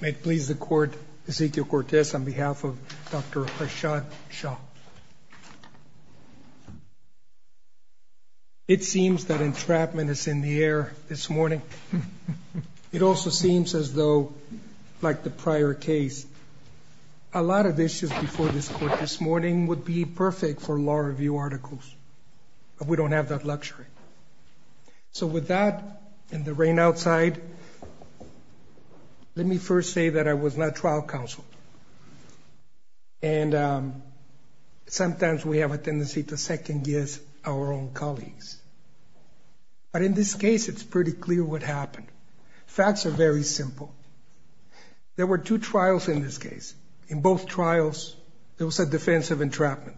May it please the court, Ezekiel Cortez on behalf of Dr. Harshad Shah. It seems that entrapment is in the air this morning. It also seems as though, like the prior case, a lot of issues before this court this morning would be perfect for law review articles, but we don't have that luxury. So with that, in the rain outside, let me first say that I was not trial counsel. And sometimes we have a tendency to second-guess our own colleagues. But in this case, it's pretty clear what happened. Facts are very simple. There were two trials in this case. In both trials, there was a defense of entrapment.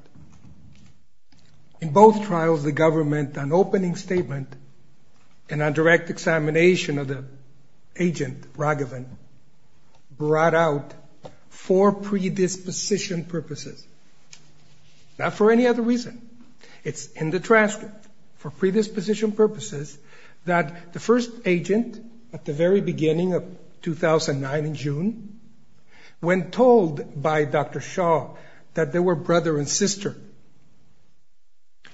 In both trials, the government, on opening statement and on direct examination of the agent Raghavan, brought out for predisposition purposes, not for any other reason. It's in the transcript, for predisposition purposes, that the first agent, at the very answer,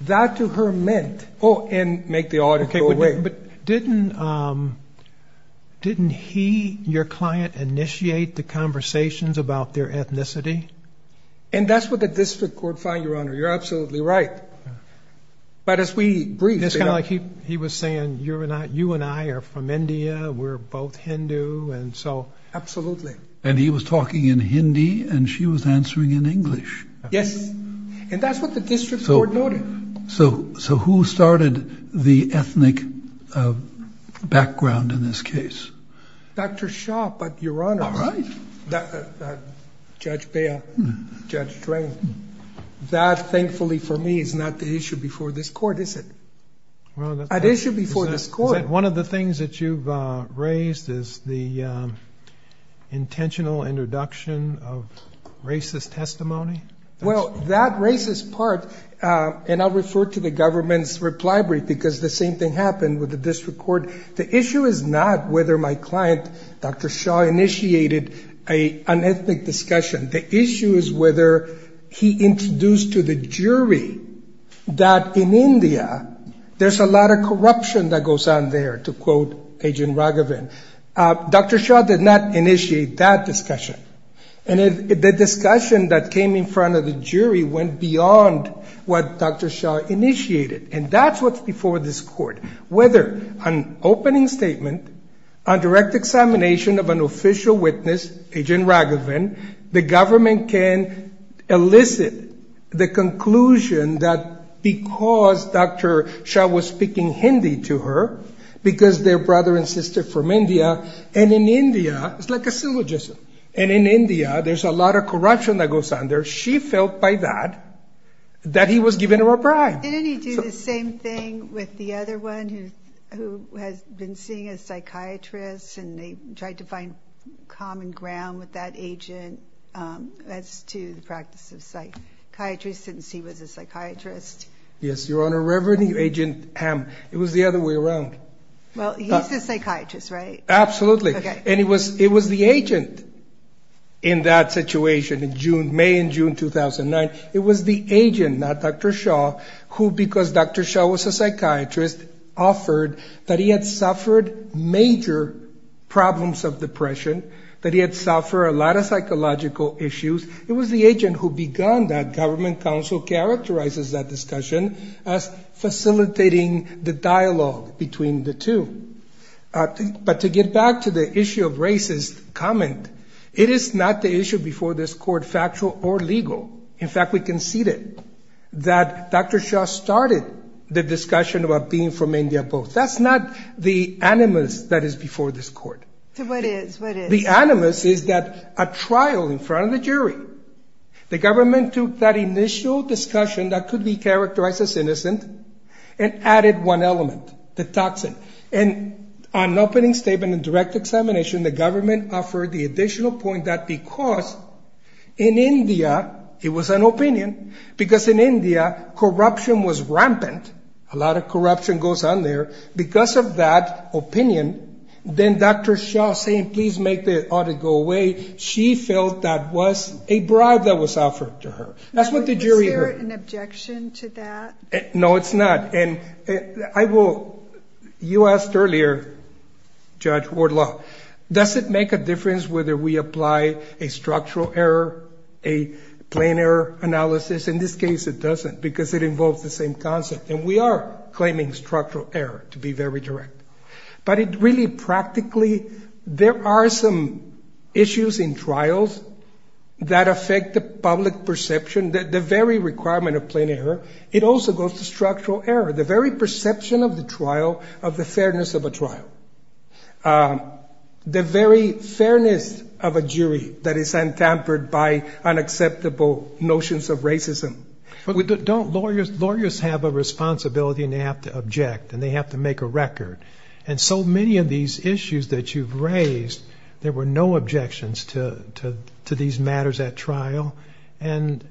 that to her meant, oh, and make the audit go away. But didn't he, your client, initiate the conversations about their ethnicity? And that's what the district court found, Your Honor. You're absolutely right. But as we briefed, you know. It's kind of like he was saying, you and I are from India. We're both Hindu. And so. Absolutely. And he was talking in Hindi, and she was answering in English. Yes. And that's what the district court noted. So who started the ethnic background in this case? Dr. Shah, but Your Honor. All right. Judge Bail, Judge Drain. That thankfully for me is not the issue before this court, is it? Well, that's. An issue before this court. One of the things that you've raised is the intentional introduction of racist testimony. Well, that racist part. And I'll refer to the government's reply brief, because the same thing happened with the district court. The issue is not whether my client, Dr. Shah, initiated an ethnic discussion. The issue is whether he introduced to the jury that in India, there's a lot of corruption that goes on there, to quote Agent Raghavan. Dr. Shah did not initiate that discussion. And the discussion that came in front of the jury went beyond what Dr. Shah initiated. And that's what's before this court. Whether an opening statement, a direct examination of an official witness, Agent Raghavan, the because they're brother and sister from India. And in India, it's like a syllogism. And in India, there's a lot of corruption that goes on there. She felt by that, that he was giving her a bribe. Didn't he do the same thing with the other one who has been seen as a psychiatrist and they tried to find common ground with that agent as to the practice of psychiatry since he was a psychiatrist? Yes, Your Honor, Reverend Agent Hamm. It was the other way around. Well, he's the psychiatrist, right? Absolutely. And it was the agent in that situation in June, May and June 2009. It was the agent, not Dr. Shah, who because Dr. Shah was a psychiatrist, offered that he had suffered major problems of depression, that he had suffered a lot of psychological issues. It was the agent who began that government council characterizes that discussion as facilitating the dialogue between the two. But to get back to the issue of racist comment, it is not the issue before this court, factual or legal. In fact, we conceded that Dr. Shah started the discussion about being from India both. That's not the animus that is before this court. What is? What is? The animus is that a trial in front of the jury, the government took that initial discussion that could be characterized as innocent and added one element, the toxin. And on opening statement and direct examination, the government offered the additional point that because in India, it was an opinion, because in India, corruption was rampant, a lot of corruption goes on there. Because of that opinion, then Dr. Shah saying, please make the audit go away. She felt that was a bribe that was offered to her. Is there an objection to that? No, it's not. And I will, you asked earlier, Judge Wardlaw, does it make a difference whether we apply a structural error, a plain error analysis? In this case, it doesn't, because it involves the same concept, and we are claiming structural error to be very direct. But it really practically, there are some issues in trials that affect the public perception, the very requirement of plain error. It also goes to structural error, the very perception of the trial, of the fairness of a trial, the very fairness of a jury that is untampered by unacceptable notions of racism. But don't lawyers have a responsibility and they have to object and they have to make a record? And so many of these issues that you've raised, there were no objections to these matters at trial. And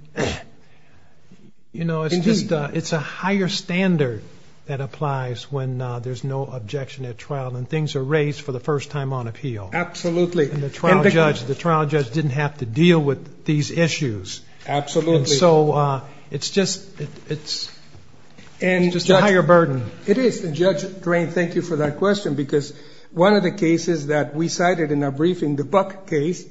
you know, it's a higher standard that applies when there's no objection at trial and things are raised for the first time on appeal. Absolutely. And the trial judge, the trial judge didn't have to deal with these issues. Absolutely. So it's just, it's just a higher burden. It is. And Judge Drain, thank you for that question, because one of the cases that we cited in our briefing, the Buck case,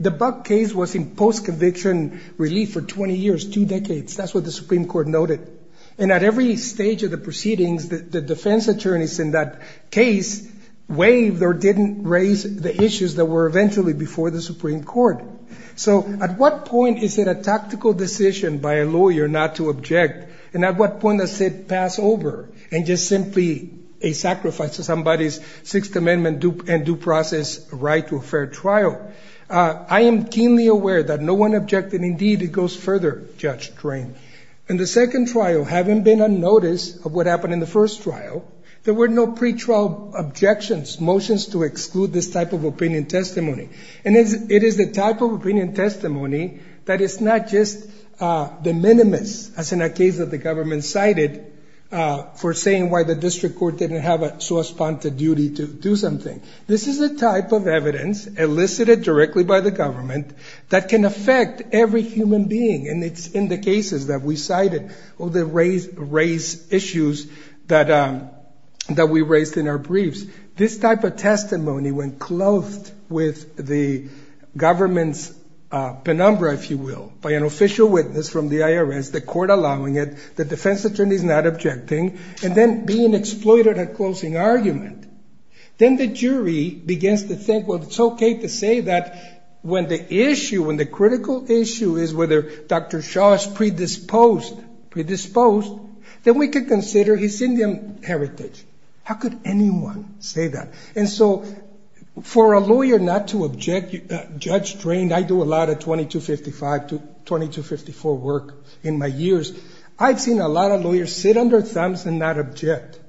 the Buck case was in post-conviction relief for 20 years, two decades. That's what the Supreme Court noted. And at every stage of the proceedings, the defense attorneys in that case waived or didn't raise the issues that were eventually before the Supreme Court. So at what point is it a tactical decision by a lawyer not to object? And at what point does it pass over and just simply a sacrifice to somebody's Sixth Amendment and due process right to a fair trial? I am keenly aware that no one objected. Indeed, it goes further, Judge Drain. In the second trial, having been unnoticed of what happened in the first trial, there were no pretrial objections, motions to exclude this type of opinion testimony. And it is the type of opinion testimony that is not just de minimis, as in a case that the government cited, for saying why the district court didn't have a so-esponsored duty to do something. This is a type of evidence, elicited directly by the government, that can affect every human being. And it's in the cases that we cited that raised issues that we raised in our briefs. This type of testimony, when clothed with the government's penumbra, if you will, by an official witness from the IRS, the court allowing it, the defense attorney is not objecting, and then being exploited at closing argument, then the jury begins to think, well, it's OK to say that when the issue, when the critical issue is whether Dr. Shaw is predisposed, then we could consider his Indian heritage. How could anyone say that? And so for a lawyer not to object, judge-trained, I do a lot of 2255 to 2254 work in my years. I've seen a lot of lawyers sit under thumbs and not object.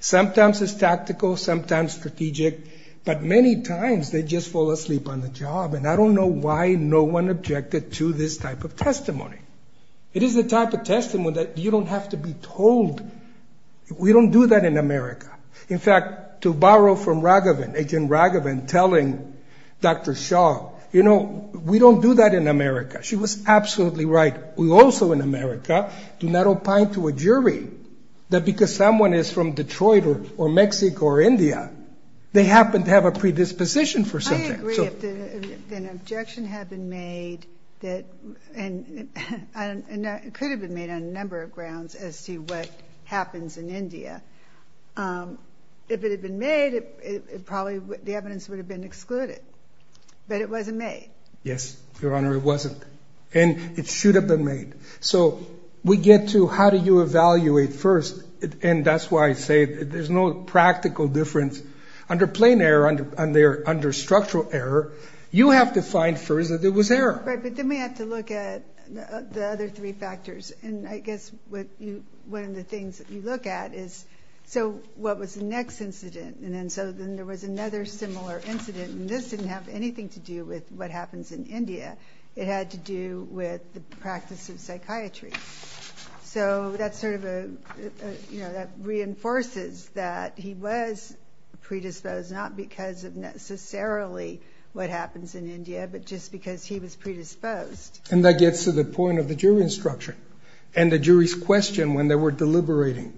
Sometimes it's tactical, sometimes strategic, but many times they just fall asleep on the job. And I don't know why no one objected to this type of testimony. It is the type of testimony that you don't have to be told. We don't do that in America. In fact, to borrow from Raghavan, Agent Raghavan telling Dr. Shaw, you know, we don't do that in America. She was absolutely right. We also in America do not opine to a jury that because someone is from Detroit or Mexico or India, they happen to have a predisposition for something. I agree. If an objection had been made, and it could have been made on a number of grounds as to what happens in India, if it had been made, probably the evidence would have been excluded. But it wasn't made. Yes, Your Honor, it wasn't. And it should have been made. So we get to how do you evaluate first, and that's why I say there's no practical difference Under plain error, under structural error, you have to find first that there was error. Right, but then we have to look at the other three factors. And I guess one of the things that you look at is, so what was the next incident? And then so then there was another similar incident, and this didn't have anything to do with what happens in India. It had to do with the practice of psychiatry. So that's sort of a, you know, that reinforces that he was predisposed, not because of necessarily what happens in India, but just because he was predisposed. And that gets to the point of the jury instruction and the jury's question when they were deliberating.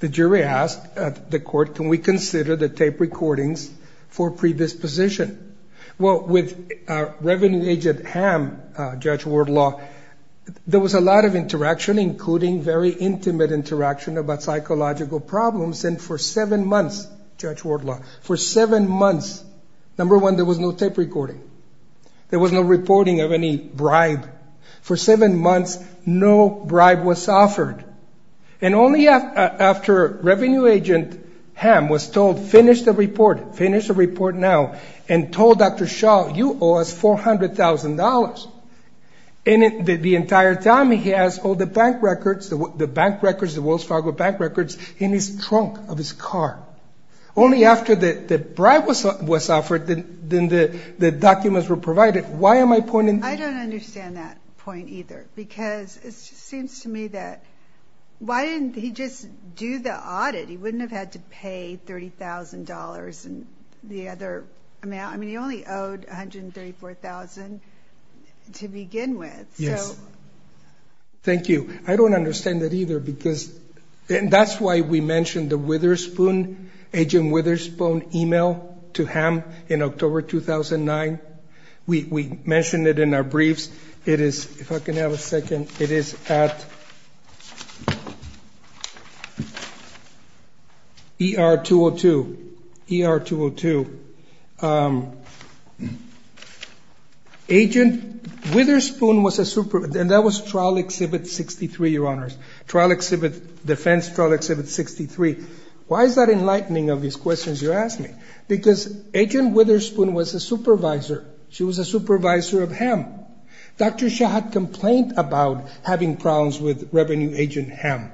The jury asked the court, can we consider the tape recordings for predisposition? Well, with Revenue Agent Ham, Judge Wardlaw, there was a lot of interaction, including very intimate interaction about psychological problems, and for seven months, Judge Wardlaw, for seven months, number one, there was no tape recording. There was no reporting of any bribe. For seven months, no bribe was offered. And only after Revenue Agent Ham was told, finish the report, finish the report now, and told Dr. Shaw, you owe us $400,000, and the entire time he has all the bank records, the bank records, the Wells Fargo bank records, in his trunk of his car. Only after the bribe was offered, then the documents were provided. Why am I pointing? I don't understand that point either, because it seems to me that, why didn't he just do the audit? He wouldn't have had to pay $30,000 and the other amount, I mean, he only owed $134,000 to begin with. Yes. So. Thank you. I don't understand that either, because that's why we mentioned the Witherspoon, Agent Witherspoon email to Ham in October 2009. We mentioned it in our briefs. It is, if I can have a second, it is at ER 202, ER 202. Agent Witherspoon was a supervisor, and that was Trial Exhibit 63, Your Honors. Trial Exhibit, Defense Trial Exhibit 63. Why is that enlightening of these questions you're asking? Because Agent Witherspoon was a supervisor. She was a supervisor of Ham. Dr. Shaw had complained about having problems with Revenue Agent Ham.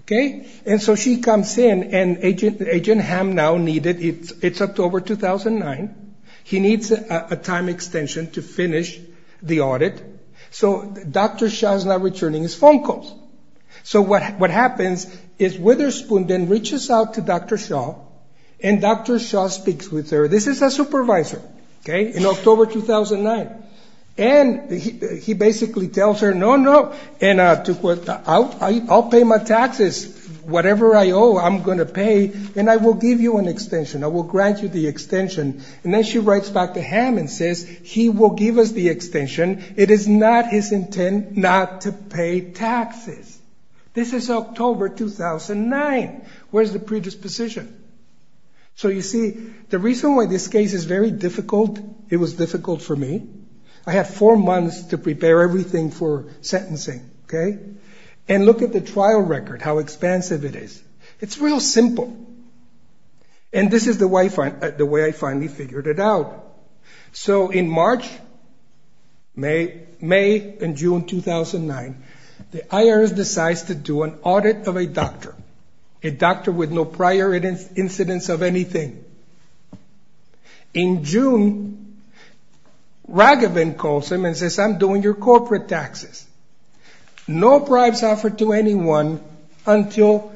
Okay? And so she comes in, and Agent Ham now needed, it's October 2009, he needs a time extension to finish the audit, so Dr. Shaw is not returning his phone calls. So what happens is Witherspoon then reaches out to Dr. Shaw, and Dr. Shaw speaks with her. This is a supervisor. Okay? In October 2009. And he basically tells her, no, no, and I'll pay my taxes, whatever I owe, I'm going to pay, and I will give you an extension. I will grant you the extension. And then she writes back to Ham and says, he will give us the extension. It is not his intent not to pay taxes. This is October 2009. Where's the predisposition? So you see, the reason why this case is very difficult, it was difficult for me, I had four months to prepare everything for sentencing, okay? And look at the trial record, how expansive it is. It's real simple. And this is the way I finally figured it out. So in March, May and June 2009, the IRS decides to do an audit of a doctor, a doctor with no prior incidents of anything. In June, Raghavan calls him and says, I'm doing your corporate taxes. No bribes offered to anyone until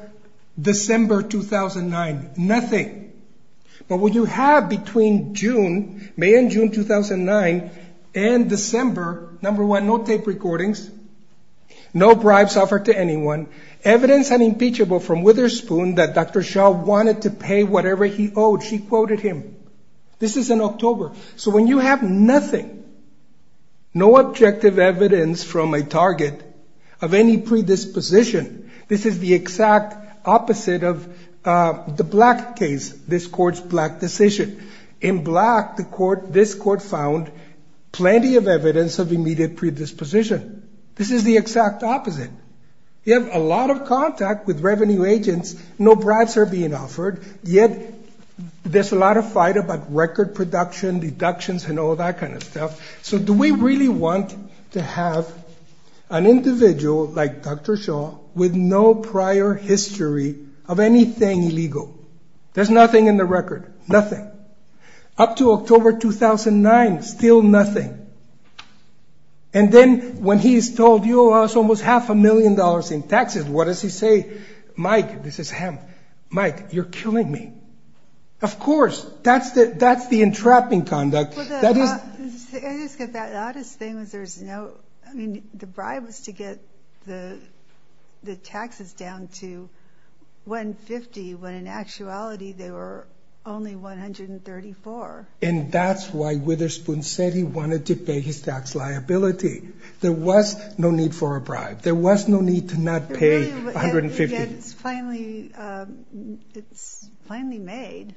December 2009, nothing. But what you have between June, May and June 2009, and December, number one, no tape recordings, no bribes offered to anyone, evidence unimpeachable from Witherspoon that Dr. Shah wanted to pay whatever he owed. She quoted him. This is in October. So when you have nothing, no objective evidence from a target of any predisposition, this is the exact opposite of the Black case, this court's Black decision. In Black, this court found plenty of evidence of immediate predisposition. This is the exact opposite. You have a lot of contact with revenue agents, no bribes are being offered, yet there's a lot of fight about record production, deductions, and all that kind of stuff. So do we really want to have an individual like Dr. Shah with no prior history of anything illegal? There's nothing in the record, nothing. Up to October 2009, still nothing. And then when he's told, you owe us almost half a million dollars in taxes, what does he say? Mike, this is him, Mike, you're killing me. Of course, that's the entrapping conduct. The oddest thing is there's no, I mean, the bribe was to get the taxes down to $150, when in actuality they were only $134. And that's why Witherspoon said he wanted to pay his tax liability. There was no need for a bribe. There was no need to not pay $150. It's finally, it's finally made.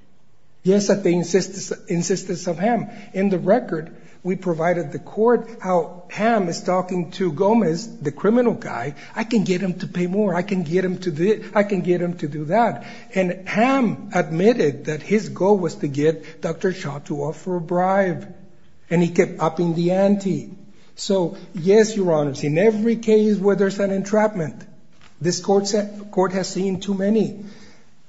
Yes, I think insistence of him. In the record, we provided the court how Ham is talking to Gomez, the criminal guy, I can get him to pay more. I can get him to, I can get him to do that. And Ham admitted that his goal was to get Dr. Shah to offer a bribe. And he kept upping the ante. So yes, Your Honor, in every case where there's an entrapment, this court has seen too many.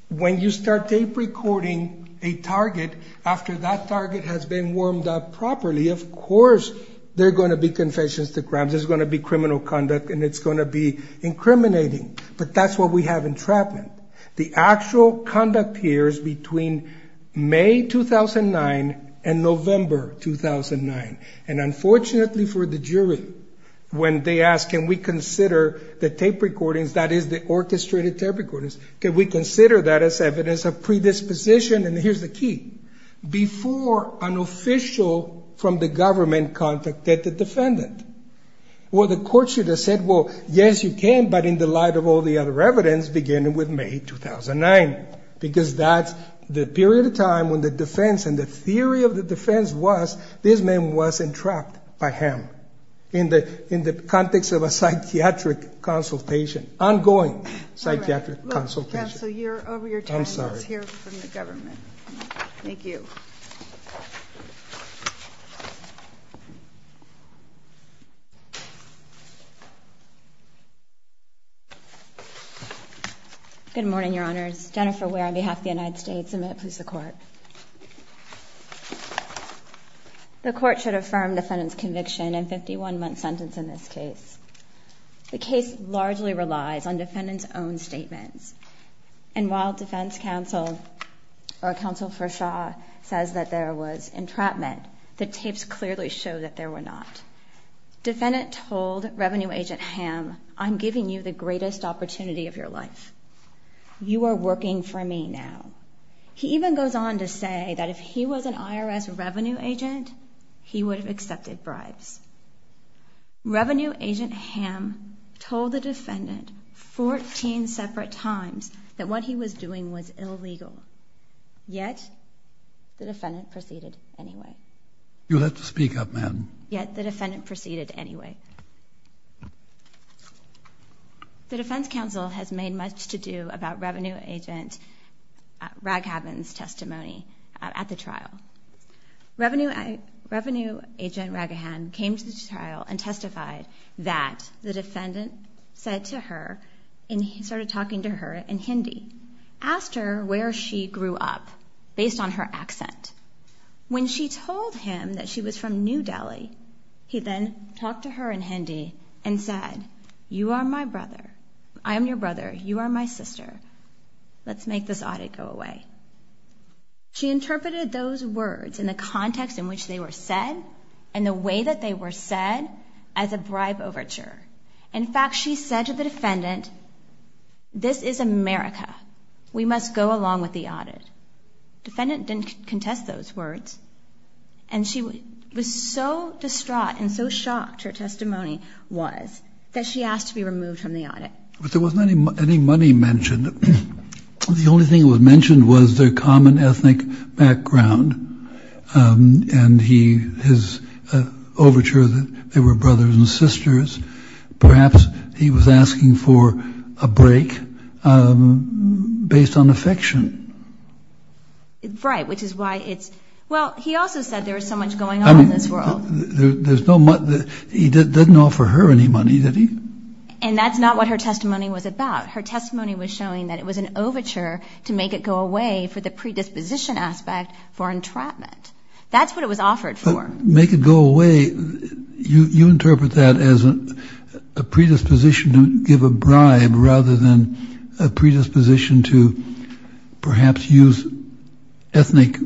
When you start tape recording a target, after that target has been warmed up properly, of course, there are going to be confessions to crimes, there's going to be criminal conduct, and it's going to be incriminating. But that's what we have entrapment. The actual conduct here is between May 2009 and November 2009. And unfortunately for the jury, when they ask, can we consider the tape recordings, that is the orchestrated tape recordings, can we consider that as evidence of predisposition? And here's the key. Before an official from the government contacted the defendant, well, the court should have said, well, yes, you can, but in the light of all the other evidence, beginning with May 2009. Because that's the period of time when the defense and the theory of the defense was this man was entrapped by him in the context of a psychiatric consultation, ongoing psychiatric consultation. Counsel, you're over your time. I'm sorry. Let's hear from the government. Thank you. Good morning, Your Honors. Jennifer Ware on behalf of the United States. A minute, please, the court. The court should affirm defendant's conviction and 51-month sentence in this case. The case largely relies on defendant's own statements. And while defense counsel or counsel for Shaw says that there was entrapment, the tapes clearly show that there were not. Defendant told revenue agent Ham, I'm giving you the greatest opportunity of your life. You are working for me now. He even goes on to say that if he was an IRS revenue agent, he would have accepted bribes. Revenue agent Ham told the defendant 14 separate times that what he was doing was illegal, yet the defendant proceeded anyway. You have to speak up, ma'am. Yet the defendant proceeded anyway. The defense counsel has made much to do about revenue agent Raghavan's testimony at the trial. Revenue agent Raghavan came to the trial and testified that the defendant said to her, and he started talking to her in Hindi, asked her where she grew up based on her accent. When she told him that she was from New Delhi, he then talked to her in Hindi and said, you are my brother. I am your brother. You are my sister. Let's make this audit go away. She interpreted those words and the context in which they were said and the way that they were said as a bribe overture. In fact, she said to the defendant, this is America. We must go along with the audit. Defendant didn't contest those words. And she was so distraught and so shocked, her testimony was, that she asked to be removed from the audit. But there wasn't any money mentioned. The only thing that was mentioned was their common ethnic background and his overture that they were brothers and sisters. Perhaps he was asking for a break based on affection. Right, which is why it's, well, he also said there was so much going on in this world. There's no, he didn't offer her any money, did he? And that's not what her testimony was about. Her testimony was showing that it was an overture to make it go away for the predisposition aspect for entrapment. That's what it was offered for. Make it go away. You interpret that as a predisposition to give a bribe rather than a predisposition to perhaps use ethnic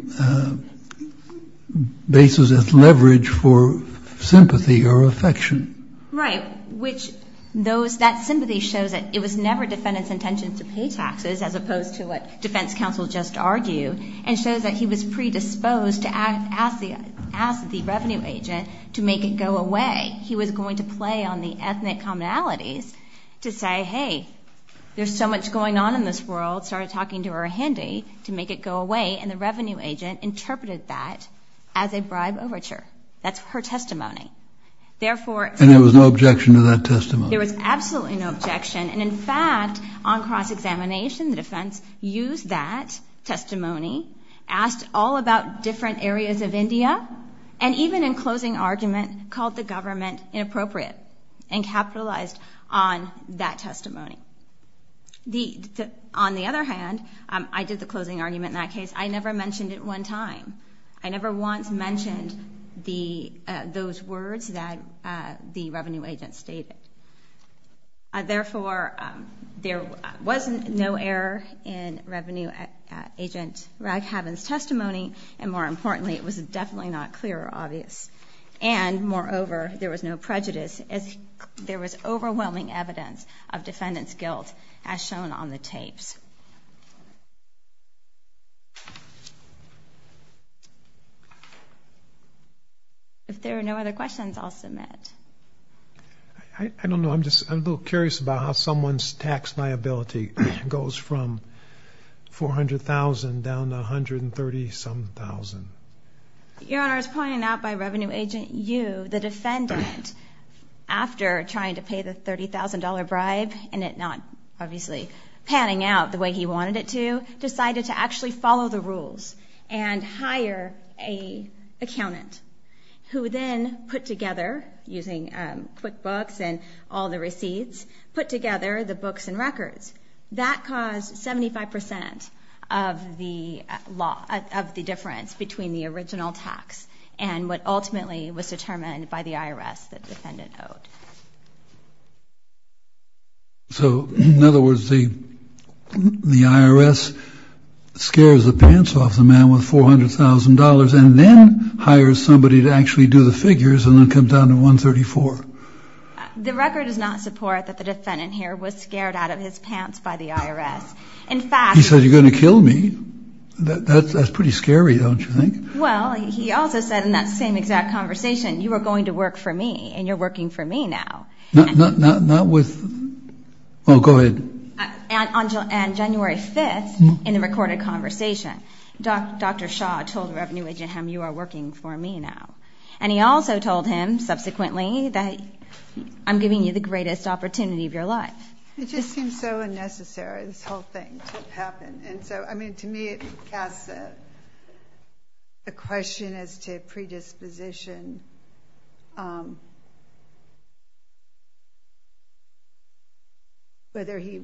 basis as leverage for sympathy or affection. Right, which that sympathy shows that it was never defendant's intention to pay taxes, as opposed to what defense counsel just argued, and shows that he was predisposed to ask the revenue agent to make it go away. He was going to play on the ethnic commonalities to say, hey, there's so much going on in this world, started talking to her handy to make it go away, and the revenue agent interpreted that as a bribe overture. That's her testimony. And there was no objection to that testimony? There was absolutely no objection, and in fact, on cross-examination, the defense used that testimony, asked all about different areas of India, and even in closing argument, called the government inappropriate, and capitalized on that testimony. On the other hand, I did the closing argument in that case, I never mentioned it one time. I never once mentioned those words that the revenue agent stated. Therefore, there was no error in revenue agent Raghavan's testimony, and more importantly, it was definitely not clear or obvious. And moreover, there was no prejudice, as there was overwhelming evidence of defendant's guilt, as shown on the tapes. If there are no other questions, I'll submit. I don't know, I'm just a little curious about how someone's tax liability goes from $400,000 down to $130-some-thousand. Your Honor, I was pointing out by revenue agent Yu, the defendant, after trying to pay the $30,000 bribe, and it not, obviously, panning out the way he wanted it to, decided to actually follow the rules, and hire an accountant, who then put together, using QuickBooks and all the receipts, put together the books and records. That caused 75% of the difference between the original tax, and what ultimately was determined by the IRS that the defendant owed. So, in other words, the IRS scares the pants off the man with $400,000, and then hires somebody to actually do the figures, and then come down to $134,000? The record does not support that the defendant here was scared out of his pants by the IRS. In fact... He said, you're going to kill me? That's pretty scary, don't you think? Well, he also said in that same exact conversation, you are going to work for me, and you're going to work for me now. Not with... Oh, go ahead. On January 5th, in the recorded conversation, Dr. Shaw told the revenue agent, you are working for me now. And he also told him, subsequently, that I'm giving you the greatest opportunity of your life. It just seems so unnecessary, this whole thing to happen. And so, I mean, to me, it casts a question as to predisposition. Whether he...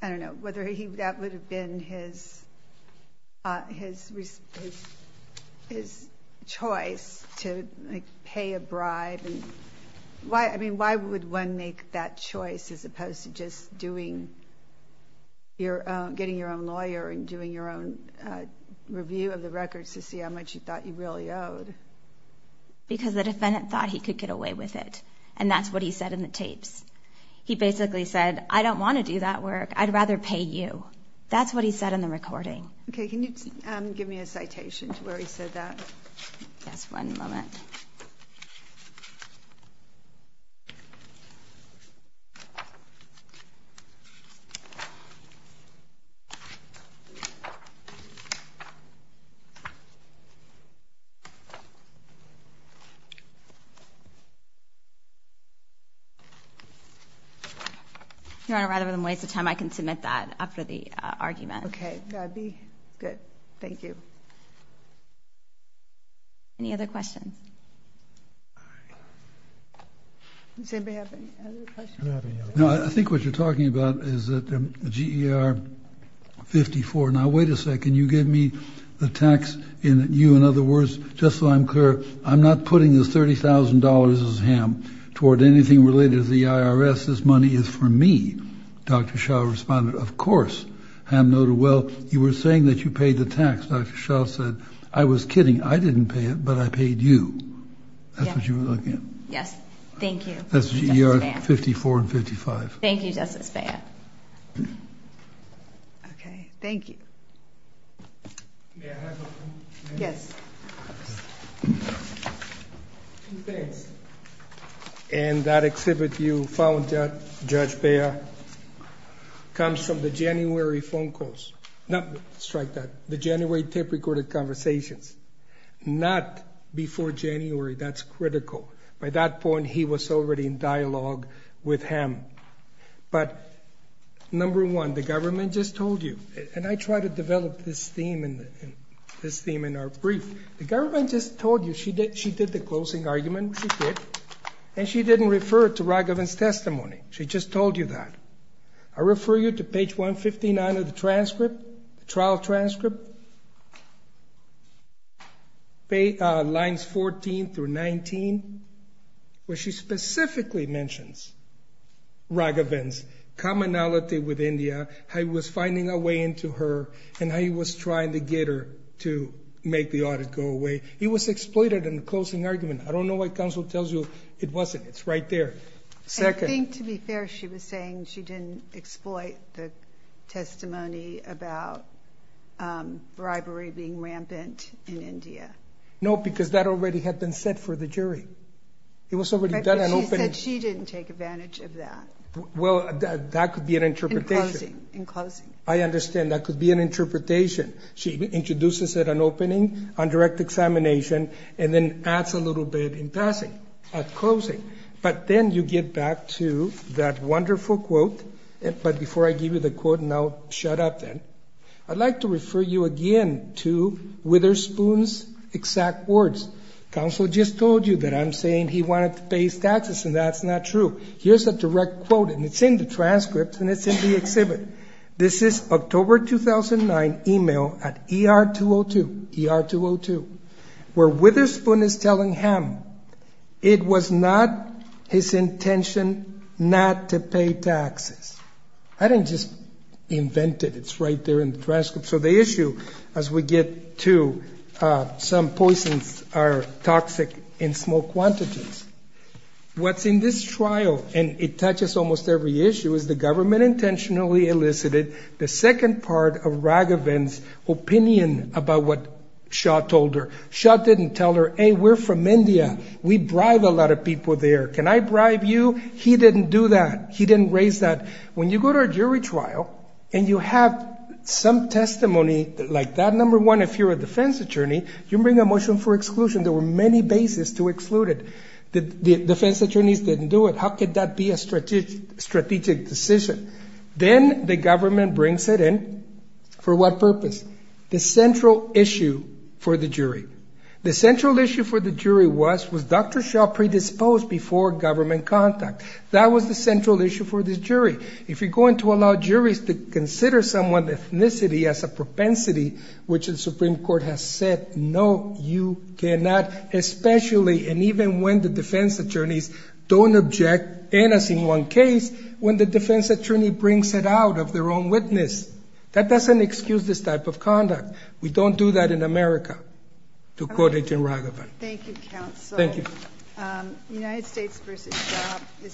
I don't know. Whether that would have been his choice to pay a bribe. I mean, why would one make that choice, as opposed to just getting your own lawyer and doing your own review of the records to see how much you thought you really owed? Because the defendant thought he could get away with it. And that's what he said in the tapes. He basically said, I don't want to do that work. I'd rather pay you. That's what he said in the recording. Okay. Can you give me a citation to where he said that? Yes, one moment. Your Honor, rather than waste of time, I can submit that after the argument. Okay. That'd be good. Thank you. Any other questions? Does anybody have any other questions? No, I think what you're talking about is that the GER 54. Now, wait a second. You gave me the tax. You, in other words, just so I'm clear, I'm not putting this $30,000 as Ham toward anything related to the IRS. This money is for me. Dr. Shah responded, of course. Ham noted, well, you were saying that you paid the tax. Dr. Shah said, I was kidding. I didn't pay it, but I paid you. That's what you were looking at. Yes. Thank you. That's GER 54 and 55. Thank you, Justice Beyer. Okay. Thank you. May I have a moment? Yes. Two things. In that exhibit you found, Judge Beyer, comes from the January phone Not before January. That's critical. By that point, he was already in dialogue with Ham. But, number one, the government just told you, and I try to develop this theme in our brief. The government just told you. She did the closing argument. She did. And she didn't refer to Raghavan's testimony. She just told you that. I refer you to page 159 of the transcript, trial transcript. Lines 14 through 19, where she specifically mentions Raghavan's commonality with India, how he was finding a way into her, and how he was trying to get her to make the audit go away. He was exploited in the closing argument. I don't know why counsel tells you it wasn't. It's right there. Second. I think, to be fair, she was saying she didn't exploit the testimony about bribery being rampant in India. No, because that already had been set for the jury. She said she didn't take advantage of that. Well, that could be an interpretation. In closing. I understand. That could be an interpretation. She introduces it on opening, on direct examination, and then adds a little bit in passing, at closing. But then you get back to that wonderful quote. But before I give you the quote, and I'll shut up then, I'd like to refer you again to Witherspoon's exact words. Counsel just told you that I'm saying he wanted to pay his taxes, and that's not true. Here's a direct quote, and it's in the transcript, and it's in the exhibit. This is October 2009 email at ER-202, ER-202, where Witherspoon is telling him it was not his intention not to pay taxes. I didn't just invent it. It's right there in the transcript. So the issue, as we get to some poisons are toxic in small quantities. What's in this trial, and it touches almost every issue, is the government intentionally elicited the second part of Raghavan's opinion about what Shaw told her. Shaw didn't tell her, hey, we're from India. We bribe a lot of people there. Can I bribe you? He didn't do that. He didn't raise that. When you go to a jury trial and you have some testimony like that, number one, if you're a defense attorney, you bring a motion for exclusion. There were many bases to exclude it. The defense attorneys didn't do it. How could that be a strategic decision? Then the government brings it in. For what purpose? The central issue for the jury. The central issue for the jury was, was Dr. Shaw predisposed before government contact? That was the central issue for this jury. If you're going to allow juries to consider someone's ethnicity as a propensity, which the Supreme Court has said, no, you cannot. Especially, and even when the defense attorneys don't object, and as in one case, when the defense attorney brings it out of their own witness. That doesn't excuse this type of conduct. We don't do that in America, to quote Agent Raghavan. Thank you, counsel. Thank you. United States v. Shaw.